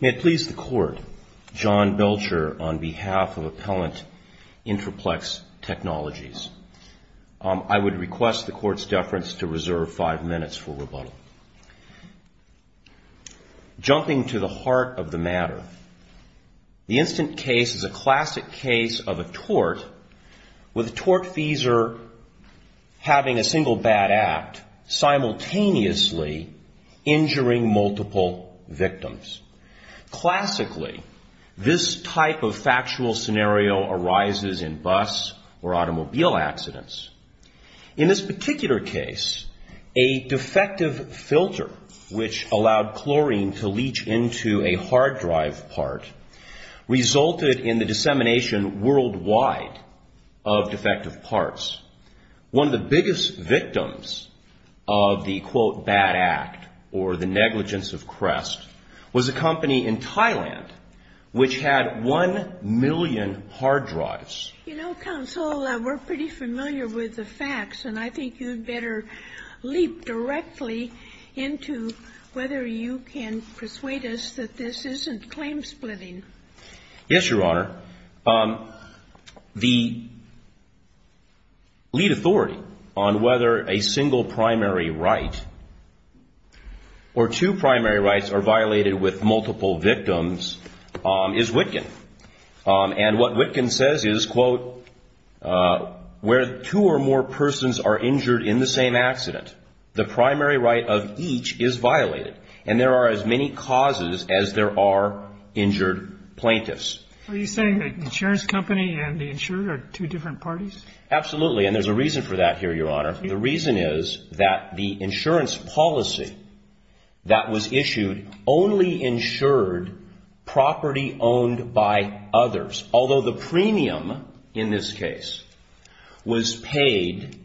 May it please the Court, John Belcher on behalf of Appellant Intri-Plex Technologies. I would request the Court's deference to reserve five minutes for rebuttal. Jumping to the heart of the matter, the instant case is a classic case of a tort with a tortfeasor having a single bad act simultaneously injuring multiple victims. Classically, this type of factual scenario arises in bus or automobile accidents. In this particular case, a defective filter which allowed chlorine to leach into a hard drive part resulted in the dissemination worldwide of defective parts. One of the biggest victims of the, quote, bad act or the negligence of Crest was a company in Thailand which had one million hard drives. You know, Counsel, we're pretty familiar with the facts, and I think you'd better leap directly into whether you can persuade us that this isn't claim splitting. Yes, Your Honor. The lead authority on whether a single primary right or two primary rights are violated with multiple victims is Witkin. And what Witkin says is, quote, where two or more persons are injured in the same accident, the primary right of each is violated, and there are as many causes as there are injured plaintiffs. Are you saying the insurance company and the insurer are two different parties? Absolutely, and there's a reason for that here, Your Honor. The reason is that the insurance policy that was issued only insured property owned by others. Although the premium in this case was paid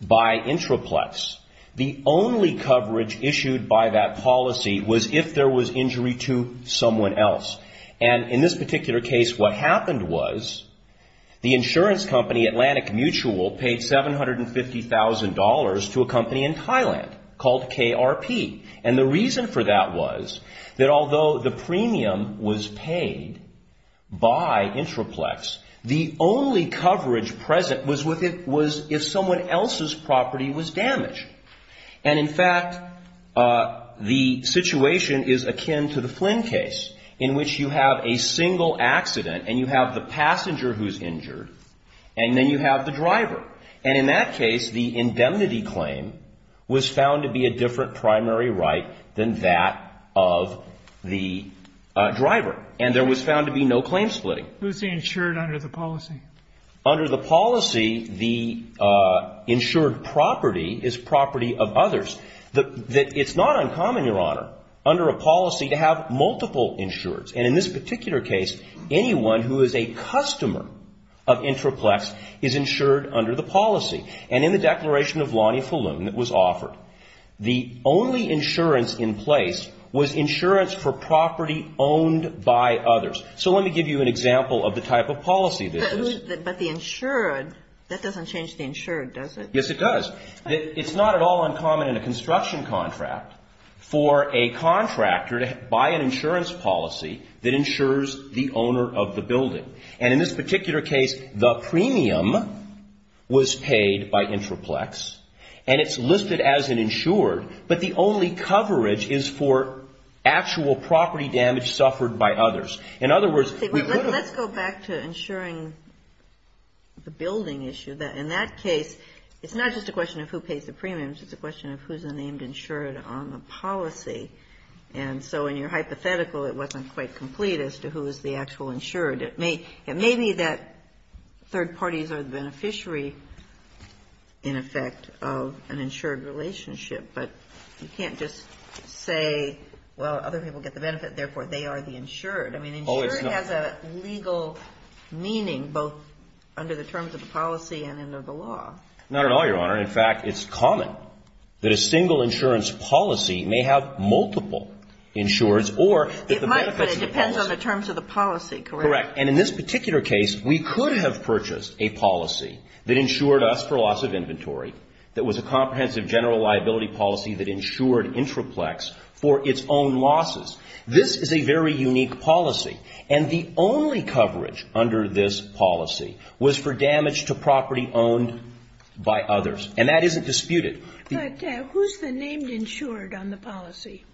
by Intraplex, the only coverage issued by that policy was if there was injury to someone else. And in this particular case, what happened was the insurance company, Atlantic Mutual, paid $750,000 to a company in Thailand called KRP. And the reason for that was that although the premium was paid by Intraplex, the only coverage present was if someone else's property was damaged. And in fact, the situation is akin to the Flynn case, in which you have a single accident and you have the passenger who's injured, and then you have the driver. And in that case, the indemnity claim was found to be a different primary right than that of the driver. And there was found to be no claim splitting. Under the policy, the insured property is property of others. It's not uncommon, Your Honor, under a policy to have multiple insurers. And in this particular case, anyone who is a customer of Intraplex is insured under the policy. And in the declaration of Lonnie Faloon that was offered, the only insurance in place was insurance for property owned by others. So let me give you an example of the type of policy this is. But the insured, that doesn't change the insured, does it? Yes, it does. It's not at all uncommon in a construction contract for a contractor to buy an insurance policy that insures the owner of the building. And in this particular case, the premium was paid by Intraplex. And it's listed as an insured. But the only coverage is for actual property damage suffered by others. In other words, we wouldn't Let's go back to insuring the building issue. In that case, it's not just a question of who pays the premiums. It's a question of who's a named insured on the policy. And so in your hypothetical, it wasn't quite complete as to who is the actual insured. It may be that third parties are the beneficiary, in effect, of an insured relationship. But you can't just say, well, other people get the benefit, therefore they are the insured. Oh, it's not. I mean, insured has a legal meaning, both under the terms of the policy and under the law. Not at all, Your Honor. In fact, it's common that a single insurance policy may have multiple insureds or It might, but it depends on the terms of the policy, correct? Correct. And in this particular case, we could have purchased a policy that insured us for loss of inventory, that was a comprehensive general liability policy that insured Intraplex for its own losses. This is a very unique policy. And the only coverage under this policy was for damage to property owned by others. And that isn't disputed. But who's the named insured on the policy?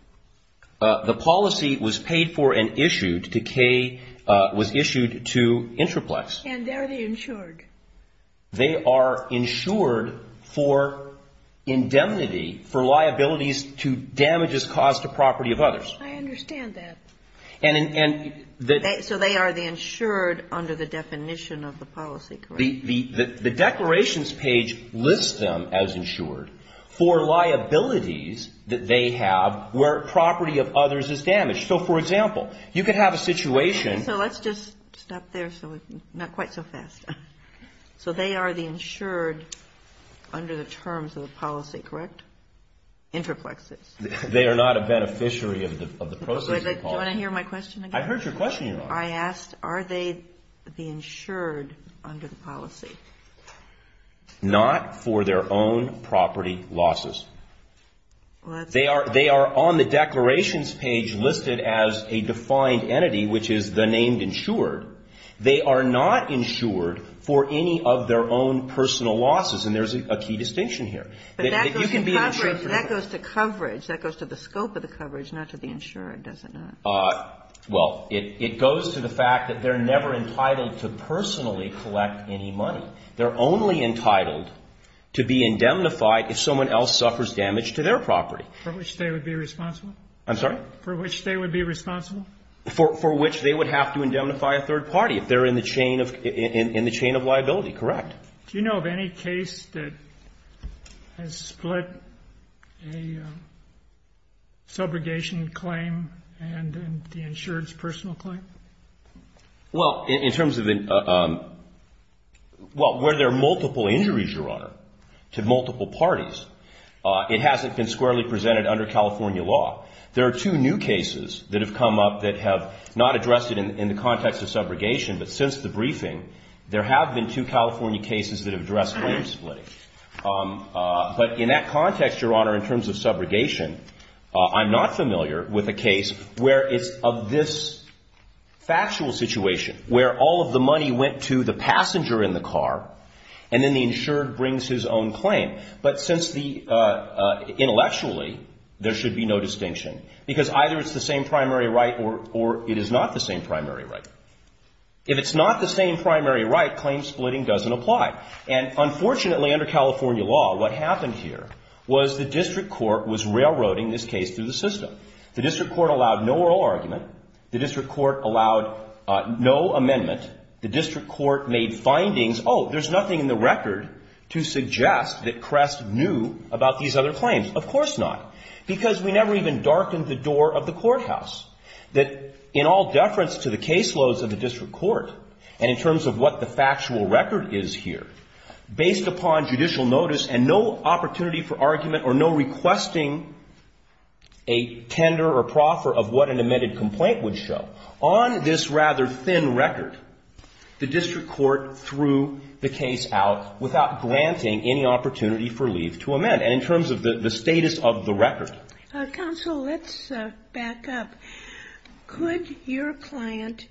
The policy was paid for and issued to K, was issued to Intraplex. And they're the insured. They are insured for indemnity, for liabilities to damages caused to property of others. I understand that. So they are the insured under the definition of the policy, correct? The declarations page lists them as insured for liabilities that they have where property of others is damaged. So, for example, you could have a situation. So let's just stop there so we can – not quite so fast. So they are the insured under the terms of the policy, correct? Intraplex is. They are not a beneficiary of the process of the policy. Do you want to hear my question again? I've heard your question, Your Honor. I asked, are they the insured under the policy? Not for their own property losses. They are on the declarations page listed as a defined entity, which is the named insured. They are not insured for any of their own personal losses. And there's a key distinction here. But that goes to coverage. That goes to the scope of the coverage, not to the insurer, does it not? Well, it goes to the fact that they're never entitled to personally collect any money. They're only entitled to be indemnified if someone else suffers damage to their property. For which they would be responsible? I'm sorry? For which they would be responsible? For which they would have to indemnify a third party if they're in the chain of liability, correct. Do you know of any case that has split a subrogation claim and the insured's personal claim? Well, in terms of the ñ well, where there are multiple injuries, Your Honor, to multiple parties, it hasn't been squarely presented under California law. There are two new cases that have come up that have not addressed it in the context of subrogation, but since the briefing, there have been two California cases that have addressed claim splitting. But in that context, Your Honor, in terms of subrogation, I'm not familiar with a case where it's of this factual situation, where all of the money went to the passenger in the car, and then the insured brings his own claim. But since the ñ intellectually, there should be no distinction. Because either it's the same primary right or it is not the same primary right. If it's not the same primary right, claim splitting doesn't apply. And unfortunately, under California law, what happened here was the district court was railroading this case through the system. The district court allowed no oral argument. The district court allowed no amendment. The district court made findings. Oh, there's nothing in the record to suggest that Crest knew about these other claims. Of course not. Because we never even darkened the door of the courthouse. That in all deference to the caseloads of the district court, and in terms of what the factual record is here, based upon judicial notice and no opportunity for argument or no requesting a tender or proffer of what an amended complaint would show, on this rather thin record, the district court threw the case out without granting any opportunity for leave to amend. And in terms of the status of the record. Counsel, let's back up. Could your client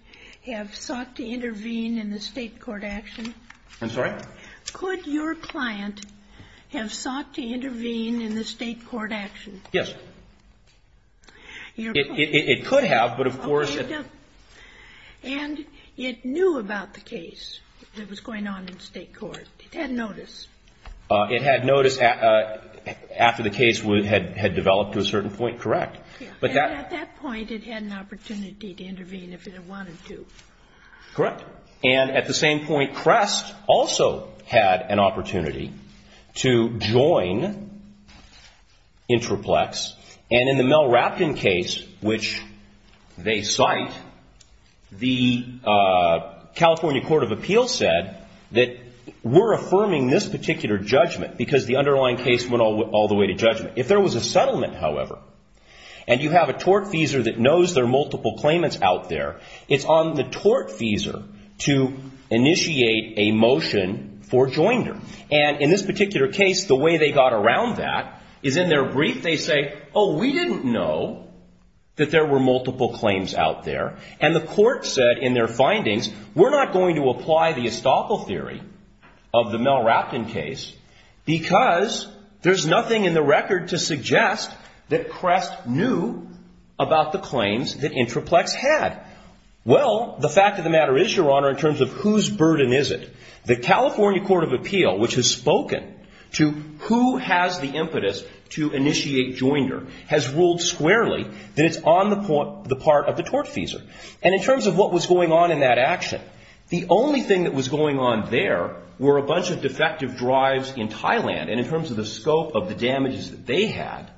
have sought to intervene in the state court action? I'm sorry? Could your client have sought to intervene in the state court action? Yes. It could have, but of course. And it knew about the case that was going on in the state court. It had notice. It had notice after the case had developed to a certain point. Correct. And at that point, it had an opportunity to intervene if it wanted to. Correct. And at the same point, Crest also had an opportunity to join Intraplex. And in the Mel Rapkin case, which they cite, the California Court of Appeals said that we're affirming this particular judgment, because the underlying case went all the way to judgment. If there was a settlement, however, and you have a tortfeasor that knows there are multiple claimants out there, it's on the tortfeasor to initiate a motion for joinder. And in this particular case, the way they got around that is in their brief they say, oh, we didn't know that there were multiple claims out there. And the court said in their findings, we're not going to apply the estoppel theory of the Mel Rapkin case, because there's nothing in the record to suggest that Crest knew about the claims that Intraplex had. Well, the fact of the matter is, Your Honor, in terms of whose burden is it? The California Court of Appeal, which has spoken to who has the impetus to initiate joinder, has ruled squarely that it's on the part of the tortfeasor. And in terms of what was going on in that action, the only thing that was going on there were a bunch of defective drives in Thailand. And in terms of the scope of the damages that they had,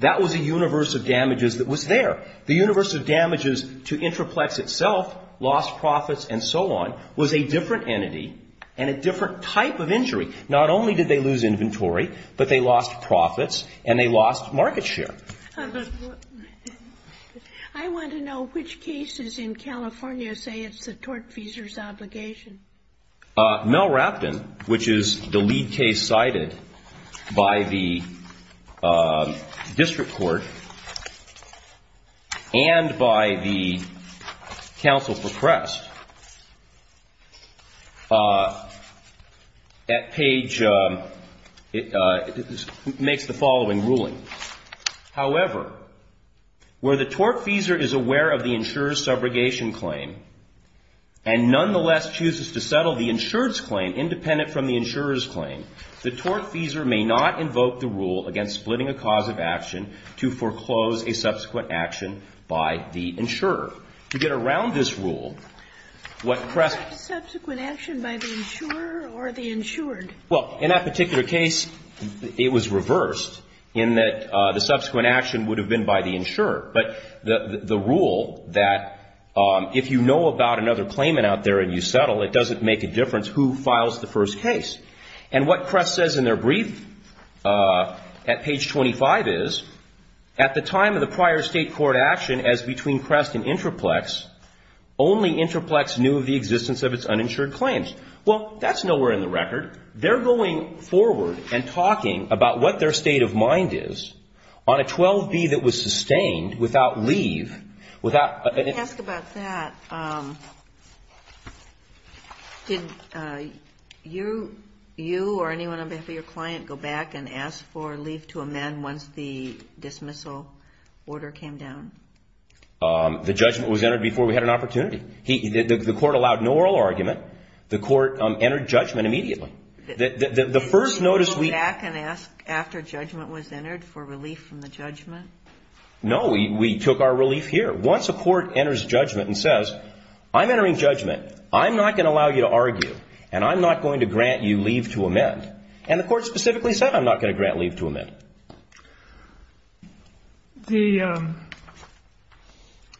that was a universe of damages that was there. The universe of damages to Intraplex itself, lost profits and so on, was a different entity and a different type of injury. Not only did they lose inventory, but they lost profits and they lost market share. I want to know which cases in California say it's the tortfeasor's obligation. Mel Rapkin, which is the lead case cited by the district court and by the counsel for Crest, that page makes the following ruling. However, where the tortfeasor is aware of the insurer's subrogation claim and nonetheless chooses to settle the insurer's claim independent from the insurer's claim, the tortfeasor may not invoke the rule against splitting a cause of action to foreclose a subsequent action by the insurer. And what Crest says in their brief at page 25 is, at the time of the prior State court action, as between Crest and Intraplex, there was no subsequent action by the insurer. And so, in that particular case, it was reversed, in that the subsequent action would have been by the insurer. But the rule that if you know about another claimant out there and you settle, it doesn't make a difference who files the first case. And what Crest says in their brief at page 25 is, at the time of the prior State court action, as between Crest and Intraplex, only Intraplex knew of the existence of its uninsured claims. Well, that's nowhere in the record. They're going forward and talking about what their state of mind is on a 12B that was sustained without leave, without an ---- Well, let's talk about that. Did you or anyone on behalf of your client go back and ask for leave to amend once the dismissal order came down? The judgment was entered before we had an opportunity. The court allowed no oral argument. The court entered judgment immediately. The first notice we ---- Did you go back and ask after judgment was entered for relief from the judgment? No, we took our relief here. Once a court enters judgment and says, I'm entering judgment. I'm not going to allow you to argue and I'm not going to grant you leave to amend. And the court specifically said, I'm not going to grant leave to amend. The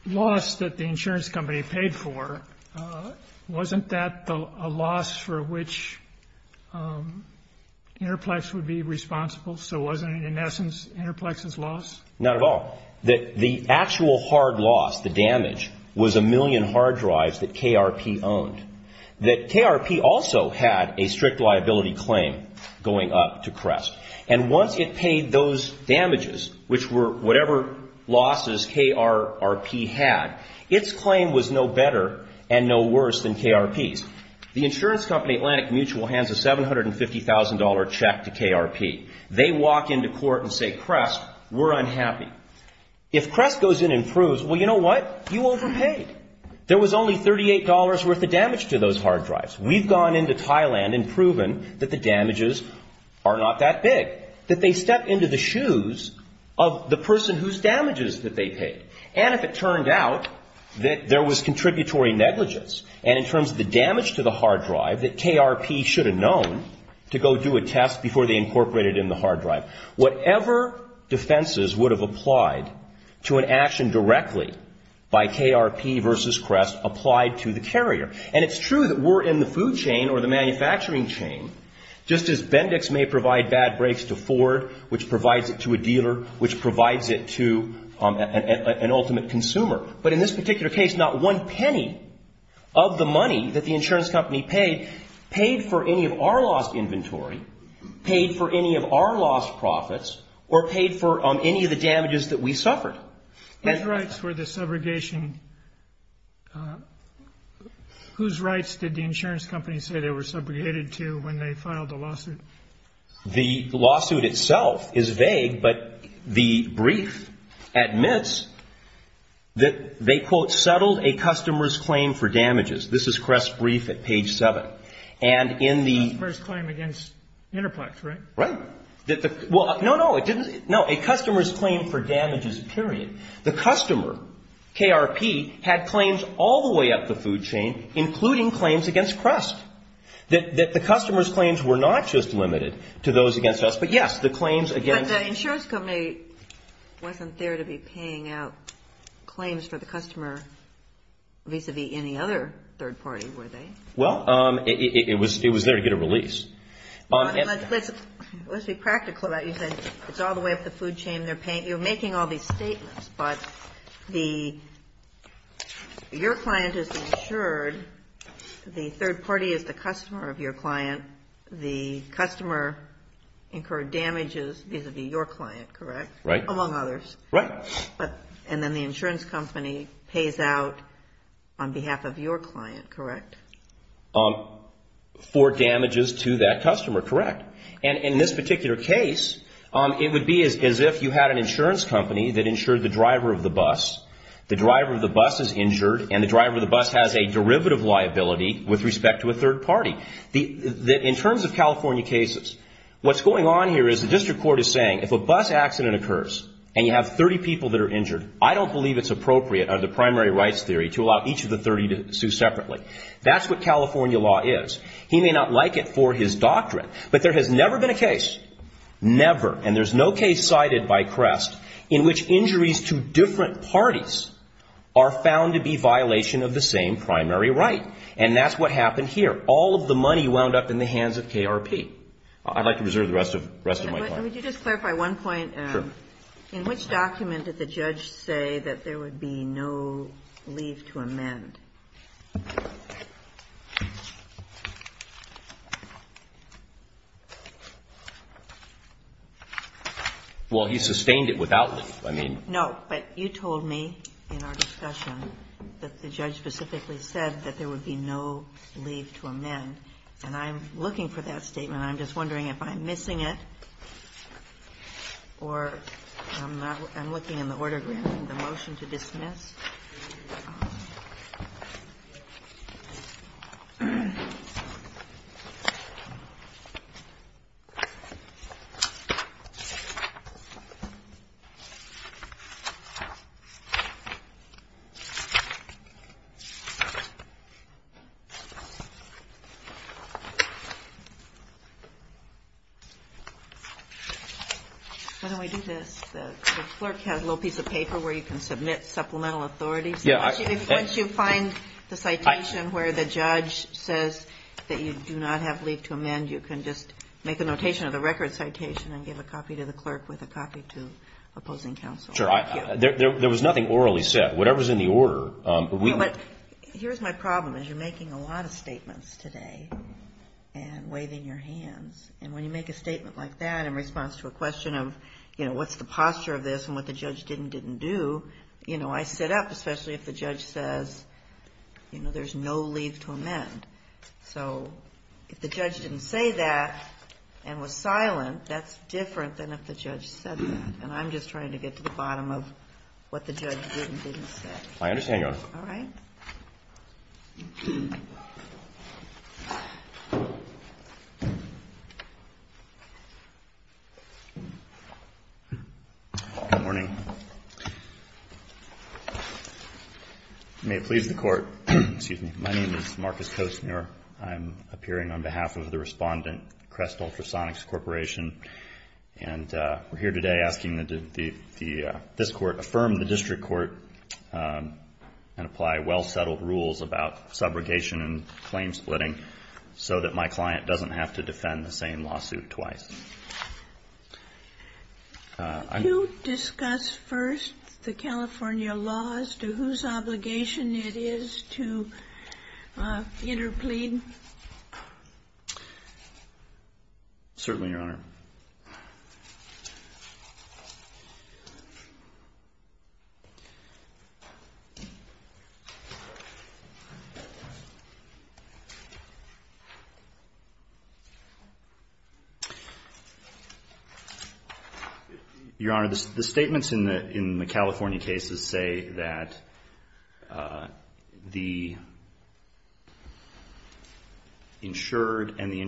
loss that the insurance company paid for, wasn't that a loss for which Intraplex would be responsible? So wasn't it, in essence, Intraplex's loss? Not at all. The actual hard loss, the damage, was a million hard drives that KRP owned. That KRP also had a strict liability claim going up to Crest. And once it paid those damages, which were whatever losses KRP had, its claim was no better and no worse than KRP's. The insurance company Atlantic Mutual hands a $750,000 check to KRP. They walk into court and say, Crest, we're unhappy. If Crest goes in and proves, well, you know what? You overpaid. There was only $38 worth of damage to those hard drives. We've gone into Thailand and proven that the damages are not that big, that they stepped into the shoes of the person whose damages that they paid. And if it turned out that there was contributory negligence, and in terms of the damage to the hard drive that KRP should have known to go do a test before they incorporated in the hard drive, whatever defenses would have applied to an action directly by KRP versus Crest applied to the carrier. And it's true that we're in the food chain or the manufacturing chain, just as Bendix may provide bad breaks to Ford, which provides it to a dealer, which provides it to an ultimate consumer. But in this particular case, not one penny of the money that the insurance company paid, paid for any of our lost inventory, paid for any of our lost profits, or paid for any of the damages that we suffered. Which rights were the subrogation? Whose rights did the insurance company say they were subrogated to when they filed the lawsuit? The lawsuit itself is vague, but the brief admits that they, quote, filed a customer's claim for damages. This is Crest's brief at page 7. And in the — Customer's claim against Interplex, right? Right. Well, no, no. It didn't — no. A customer's claim for damages, period. The customer, KRP, had claims all the way up the food chain, including claims against Crest, that the customer's claims were not just limited to those against us, but yes, the claims against — But the insurance company wasn't there to be paying out claims for the customer vis-a-vis any other third party, were they? Well, it was there to get a release. Let's be practical about it. You said it's all the way up the food chain. You're making all these statements, but the — your client is insured. The third party is the customer of your client. The customer incurred damages vis-a-vis your client, correct? Right. Among others. Right. And then the insurance company pays out on behalf of your client, correct? For damages to that customer, correct. And in this particular case, it would be as if you had an insurance company that insured the driver of the bus. The driver of the bus is injured, and the driver of the bus has a derivative liability with respect to a third party. In terms of California cases, what's going on here is the district court is and you have 30 people that are injured. I don't believe it's appropriate under the primary rights theory to allow each of the 30 to sue separately. That's what California law is. He may not like it for his doctrine, but there has never been a case, never, and there's no case cited by Crest in which injuries to different parties are found to be violation of the same primary right. And that's what happened here. All of the money wound up in the hands of KRP. I'd like to reserve the rest of my time. And would you just clarify one point? Sure. In which document did the judge say that there would be no leave to amend? Well, he sustained it without leave, I mean. No, but you told me in our discussion that the judge specifically said that there would be no leave to amend. And I'm looking for that statement. And I'm just wondering if I'm missing it or I'm looking in the order of the motion to dismiss. Why don't we do this? The clerk has a little piece of paper where you can submit supplemental authorities. Once you find the citation where the judge says that you do not have leave to amend, you can just make a notation of the record citation and give a copy to the clerk with a copy to opposing counsel. Sure. There was nothing orally said. Whatever's in the order. Here's my problem is you're making a lot of statements today and waving your hands. And when you make a statement like that in response to a question of, you know, what's the posture of this and what the judge did and didn't do, you know, I sit up, especially if the judge says, you know, there's no leave to amend. So if the judge didn't say that and was silent, that's different than if the judge said that. And I'm just trying to get to the bottom of what the judge did and didn't say. My understanding goes. All right. Good morning. May it please the Court. Excuse me. My name is Marcus Costner. I'm appearing on behalf of the respondent, Crest Ultrasonics Corporation. And we're here today asking that this Court affirm the district court and apply well-settled rules about subrogation and claim splitting so that my client doesn't have to defend the same lawsuit twice. Could you discuss first the California laws to whose obligation it is to interplead? Certainly, Your Honor. Your Honor, the statements in the California cases say that the insured and the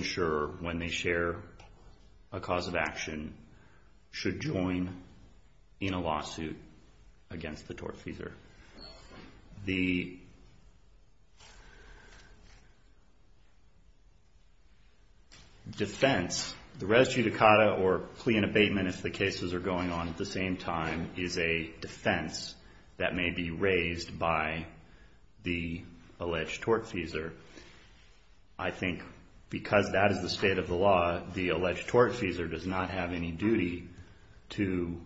The defense, the res judicata or plea and abatement, if the cases are going on at the same time, is a defense that may be raised by the alleged tortfeasor. I think because that is the state of the law, the alleged tortfeasor does not have any duty to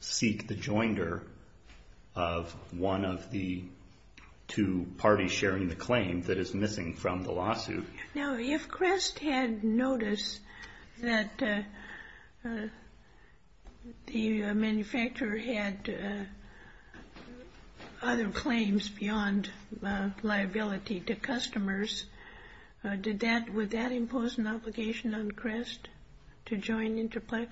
seek the joinder of one of the two parties sharing the claim that is missing from the lawsuit. Now, if Crest had noticed that the manufacturer had other claims beyond liability to customers, would that impose an obligation on Crest to join Interplex?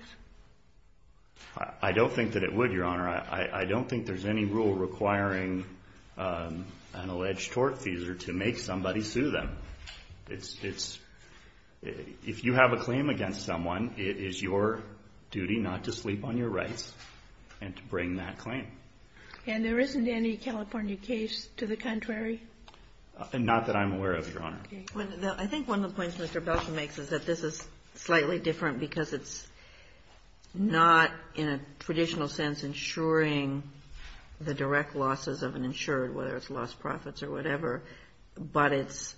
I don't think that it would, Your Honor. I don't think there's any rule requiring an alleged tortfeasor to make somebody sue them. It's — if you have a claim against someone, it is your duty not to sleep on your rights and to bring that claim. And there isn't any California case to the contrary? Not that I'm aware of, Your Honor. I think one of the points Mr. Belkin makes is that this is slightly different because it's not in a traditional sense insuring the direct losses of an insured, whether it's lost profits or whatever, but it's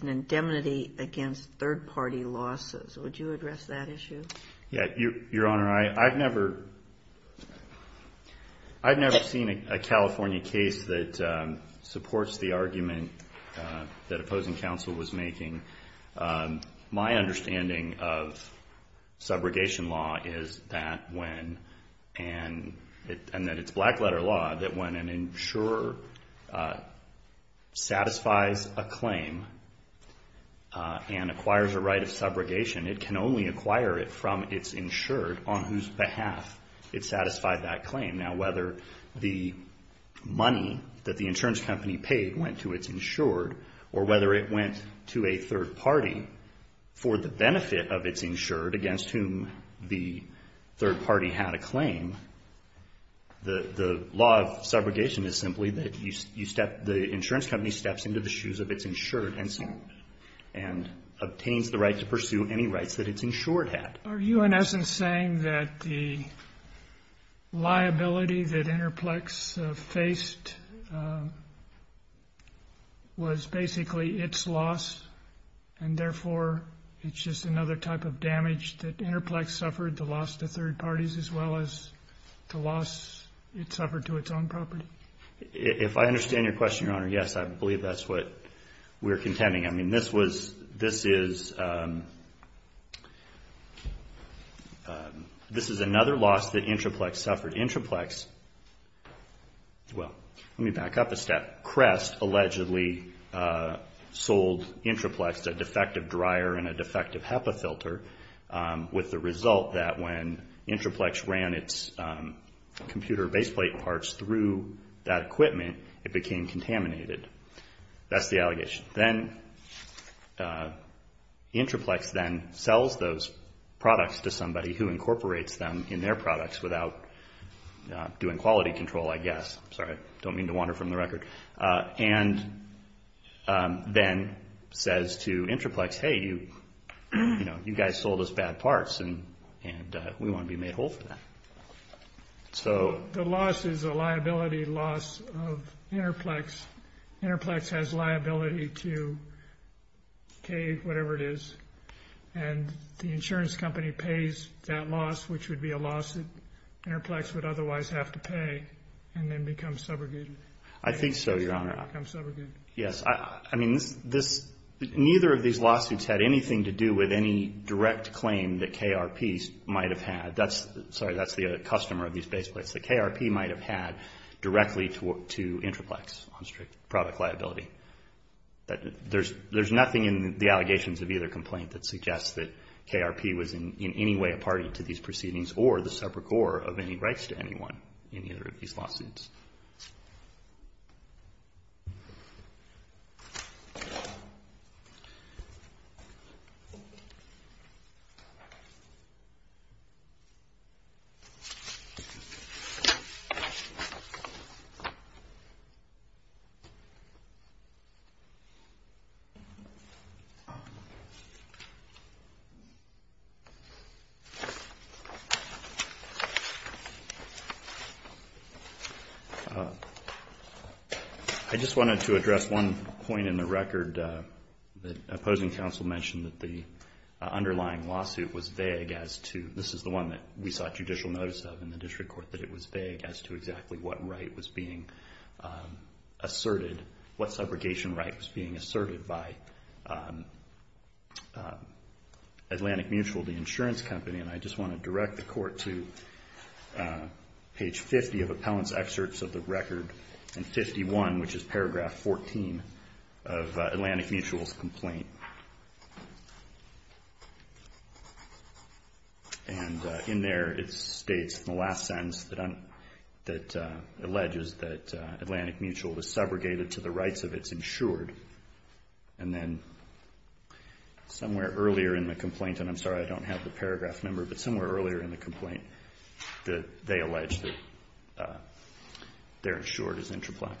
an indemnity against third-party losses. Would you address that issue? Yeah. Your Honor, I've never seen a California case that supports the argument that opposing counsel was making. My understanding of subrogation law is that when — and that it's black-letter law — that when an insurer satisfies a claim and acquires a right of subrogation, it can only acquire it from its insured on whose behalf it satisfied that claim. Now, whether the money that the insurance company paid went to its insured or whether it went to a third party for the benefit of its insured against whom the law of subrogation is simply that the insurance company steps into the shoes of its insured and so on and obtains the right to pursue any rights that its insured had. Are you, in essence, saying that the liability that Interplex faced was basically its loss and therefore it's just another type of damage that Interplex suffered to loss to third parties as well as to loss it suffered to its own property? If I understand your question, Your Honor, yes, I believe that's what we're contending. I mean, this was — this is — this is another loss that Interplex suffered. Interplex — well, let me back up a step. Crest allegedly sold Interplex a defective dryer and a defective HEPA filter with the result that when Interplex ran its computer baseplate parts through that equipment, it became contaminated. That's the allegation. Then Interplex then sells those products to somebody who incorporates them in their products without doing quality control, I guess. Sorry, I don't mean to wander from the record. And then says to Interplex, hey, you know, you guys sold us bad parts and we want to be made whole for that. So — The loss is a liability loss of Interplex. Interplex has liability to cave, whatever it is, and the insurance company pays that loss, which would be a loss that Interplex would otherwise have to pay and then become subjugated. I think so, Your Honor. Become subjugated. Yes. I mean, this — neither of these lawsuits had anything to do with any direct claim that KRP might have had. That's — sorry, that's the customer of these baseplates that KRP might have had directly to Interplex on strict product liability. There's nothing in the allegations of either complaint that suggests that KRP was in any way a party to these proceedings or the subrigore of any rights to anyone in either of these lawsuits. Thank you. I just wanted to address one point in the record. The opposing counsel mentioned that the underlying lawsuit was vague as to — this is the one that we sought judicial notice of in the district court, that it was vague as to exactly what right was being asserted, what subrogation right was being asserted by Atlantic Mutual, the insurance company. And I just want to direct the Court to page 50 of Appellant's excerpts of the record and 51, which is paragraph 14, of Atlantic Mutual's complaint. And in there, it states in the last sentence that alleges that Atlantic Mutual was subrogated to the rights of its insured. And then somewhere earlier in the complaint, and I'm sorry I don't have the paragraph number, but somewhere earlier in the complaint, they allege that they're insured as Interplex.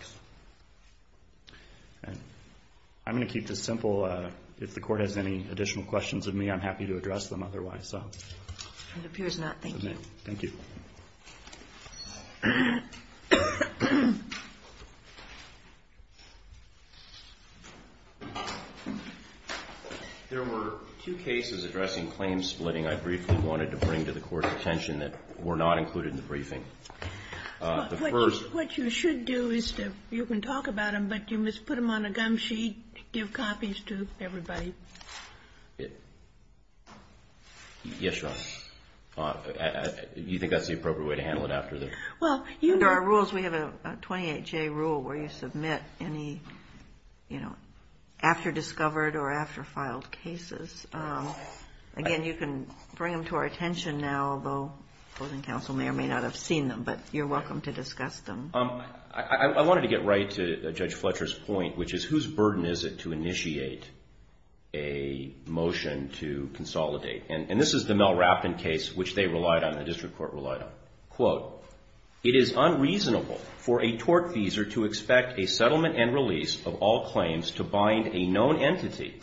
I'm going to keep this simple. If the Court has any additional questions of me, I'm happy to address them otherwise. It appears not. Thank you. Thank you. There were two cases addressing claim splitting I briefly wanted to bring to the Court's attention that were not included in the briefing. The first — What you should do is you can talk about them, but you must put them on a gum sheet, give copies to everybody. Yes, Your Honor. You think that's the appropriate way to handle it after the — Under our rules, we have a 28-J rule where you submit any, you know, after-discovered or after-filed cases. Again, you can bring them to our attention now, although opposing counsel may or may not have seen them, but you're welcome to discuss them. I wanted to get right to Judge Fletcher's point, which is whose burden is it to initiate a motion to consolidate? And this is the Mel Rapton case, which they relied on, the District Court relied on. Quote, It is unreasonable for a tort feeser to expect a settlement and release of all claims to bind a known entity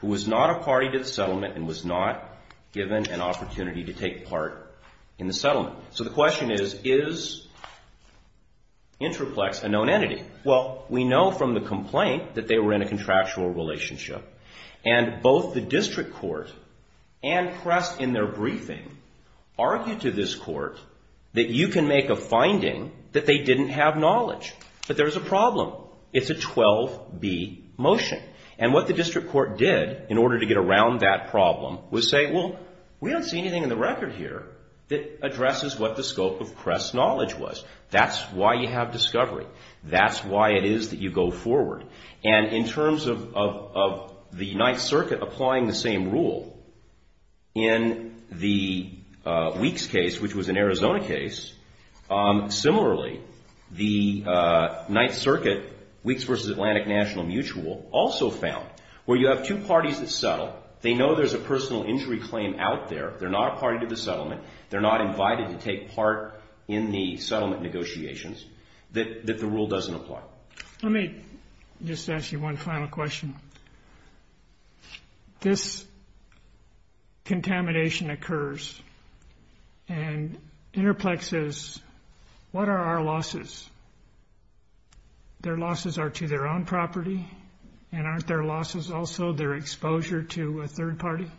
who was not a party to the settlement and was not given an opportunity to take part in the settlement. So the question is, is Intraplex a known entity? Well, we know from the complaint that they were in a contractual relationship, and both the District Court and PRESS in their briefing argued to this court that you can make a finding that they didn't have knowledge. But there's a problem. It's a 12-B motion. And what the District Court did in order to get around that problem was say, well, we don't see anything in the record here that addresses what the scope of PRESS knowledge was. That's why you have discovery. That's why it is that you go forward. And in terms of the Ninth Circuit applying the same rule in the Weeks case, which was an Arizona case, similarly, the Ninth Circuit Weeks v. Atlantic National Mutual also found where you have two parties that settle, they know there's a personal injury claim out there, they're not a party to the settlement, they're not invited to take part in the settlement negotiations, that the rule doesn't apply. Let me just ask you one final question. This contamination occurs, and Interplex says, what are our losses? Their losses are to their own property, and aren't their losses also their exposure to a third party?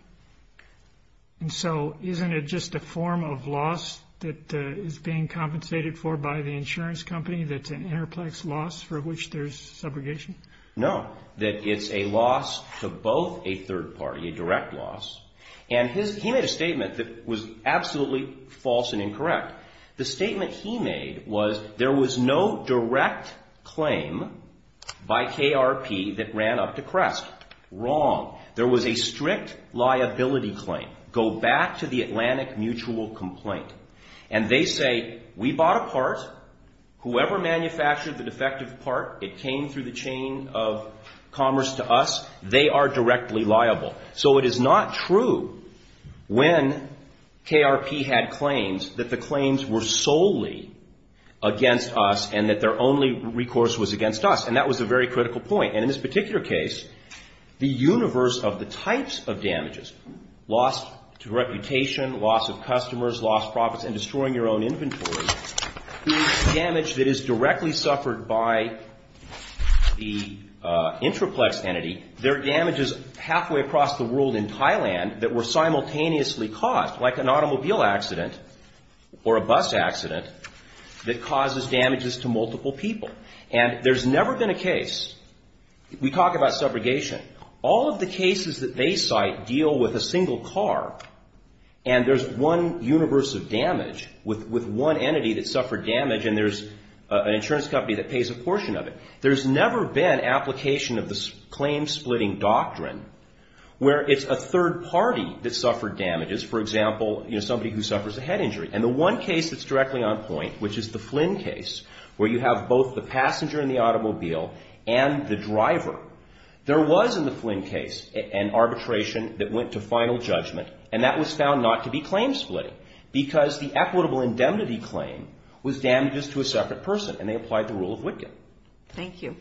And so isn't it just a form of loss that is being compensated for by the insurance company, that's an Interplex loss for which there's subrogation? No, that it's a loss to both a third party, a direct loss. And he made a statement that was absolutely false and incorrect. The statement he made was there was no direct claim by KRP that ran up to CREST. Wrong. There was a strict liability claim. Go back to the Atlantic Mutual complaint. And they say, we bought a part, whoever manufactured the defective part, it came through the chain of commerce to us, they are directly liable. So it is not true when KRP had claims that the claims were solely against us and that their only recourse was against us. And that was a very critical point. And in this particular case, the universe of the types of damages, loss to reputation, loss of customers, loss of profits, and destroying your own inventory, is damage that is directly suffered by the Interplex entity. There are damages halfway across the world in Thailand that were simultaneously caused, like an automobile accident or a bus accident, that causes damages to multiple people. And there's never been a case, we talk about subrogation, all of the cases that they cite deal with a single car, and there's one universe of damage with one entity that suffered damage, and there's an insurance company that pays a portion of it. There's never been application of the claim-splitting doctrine where it's a third party that suffered damages, for example, you know, somebody who suffers a head injury. And the one case that's directly on point, which is the Flynn case, where you have both the passenger in the automobile and the driver, there was in the Flynn case an arbitration that went to final judgment, and that was found not to be claim-splitting because the equitable indemnity claim was damages to a separate person, and they applied the rule of Wittgen. Thank you.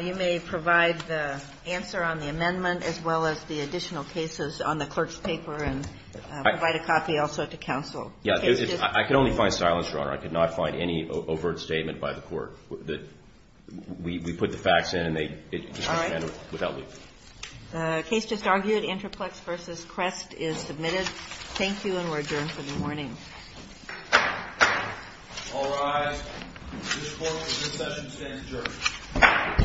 You may provide the answer on the amendment as well as the additional cases on the clerk's paper and provide a copy also to counsel. Yeah. I could only find silence, Your Honor. I could not find any overt statement by the Court that we put the facts in and they just came in without leave. All right. The case just argued, Interplex v. Crest, is submitted. Thank you, and we're adjourned for the morning. All rise. This Court, for this session, stands adjourned. Thank you, Your Honor.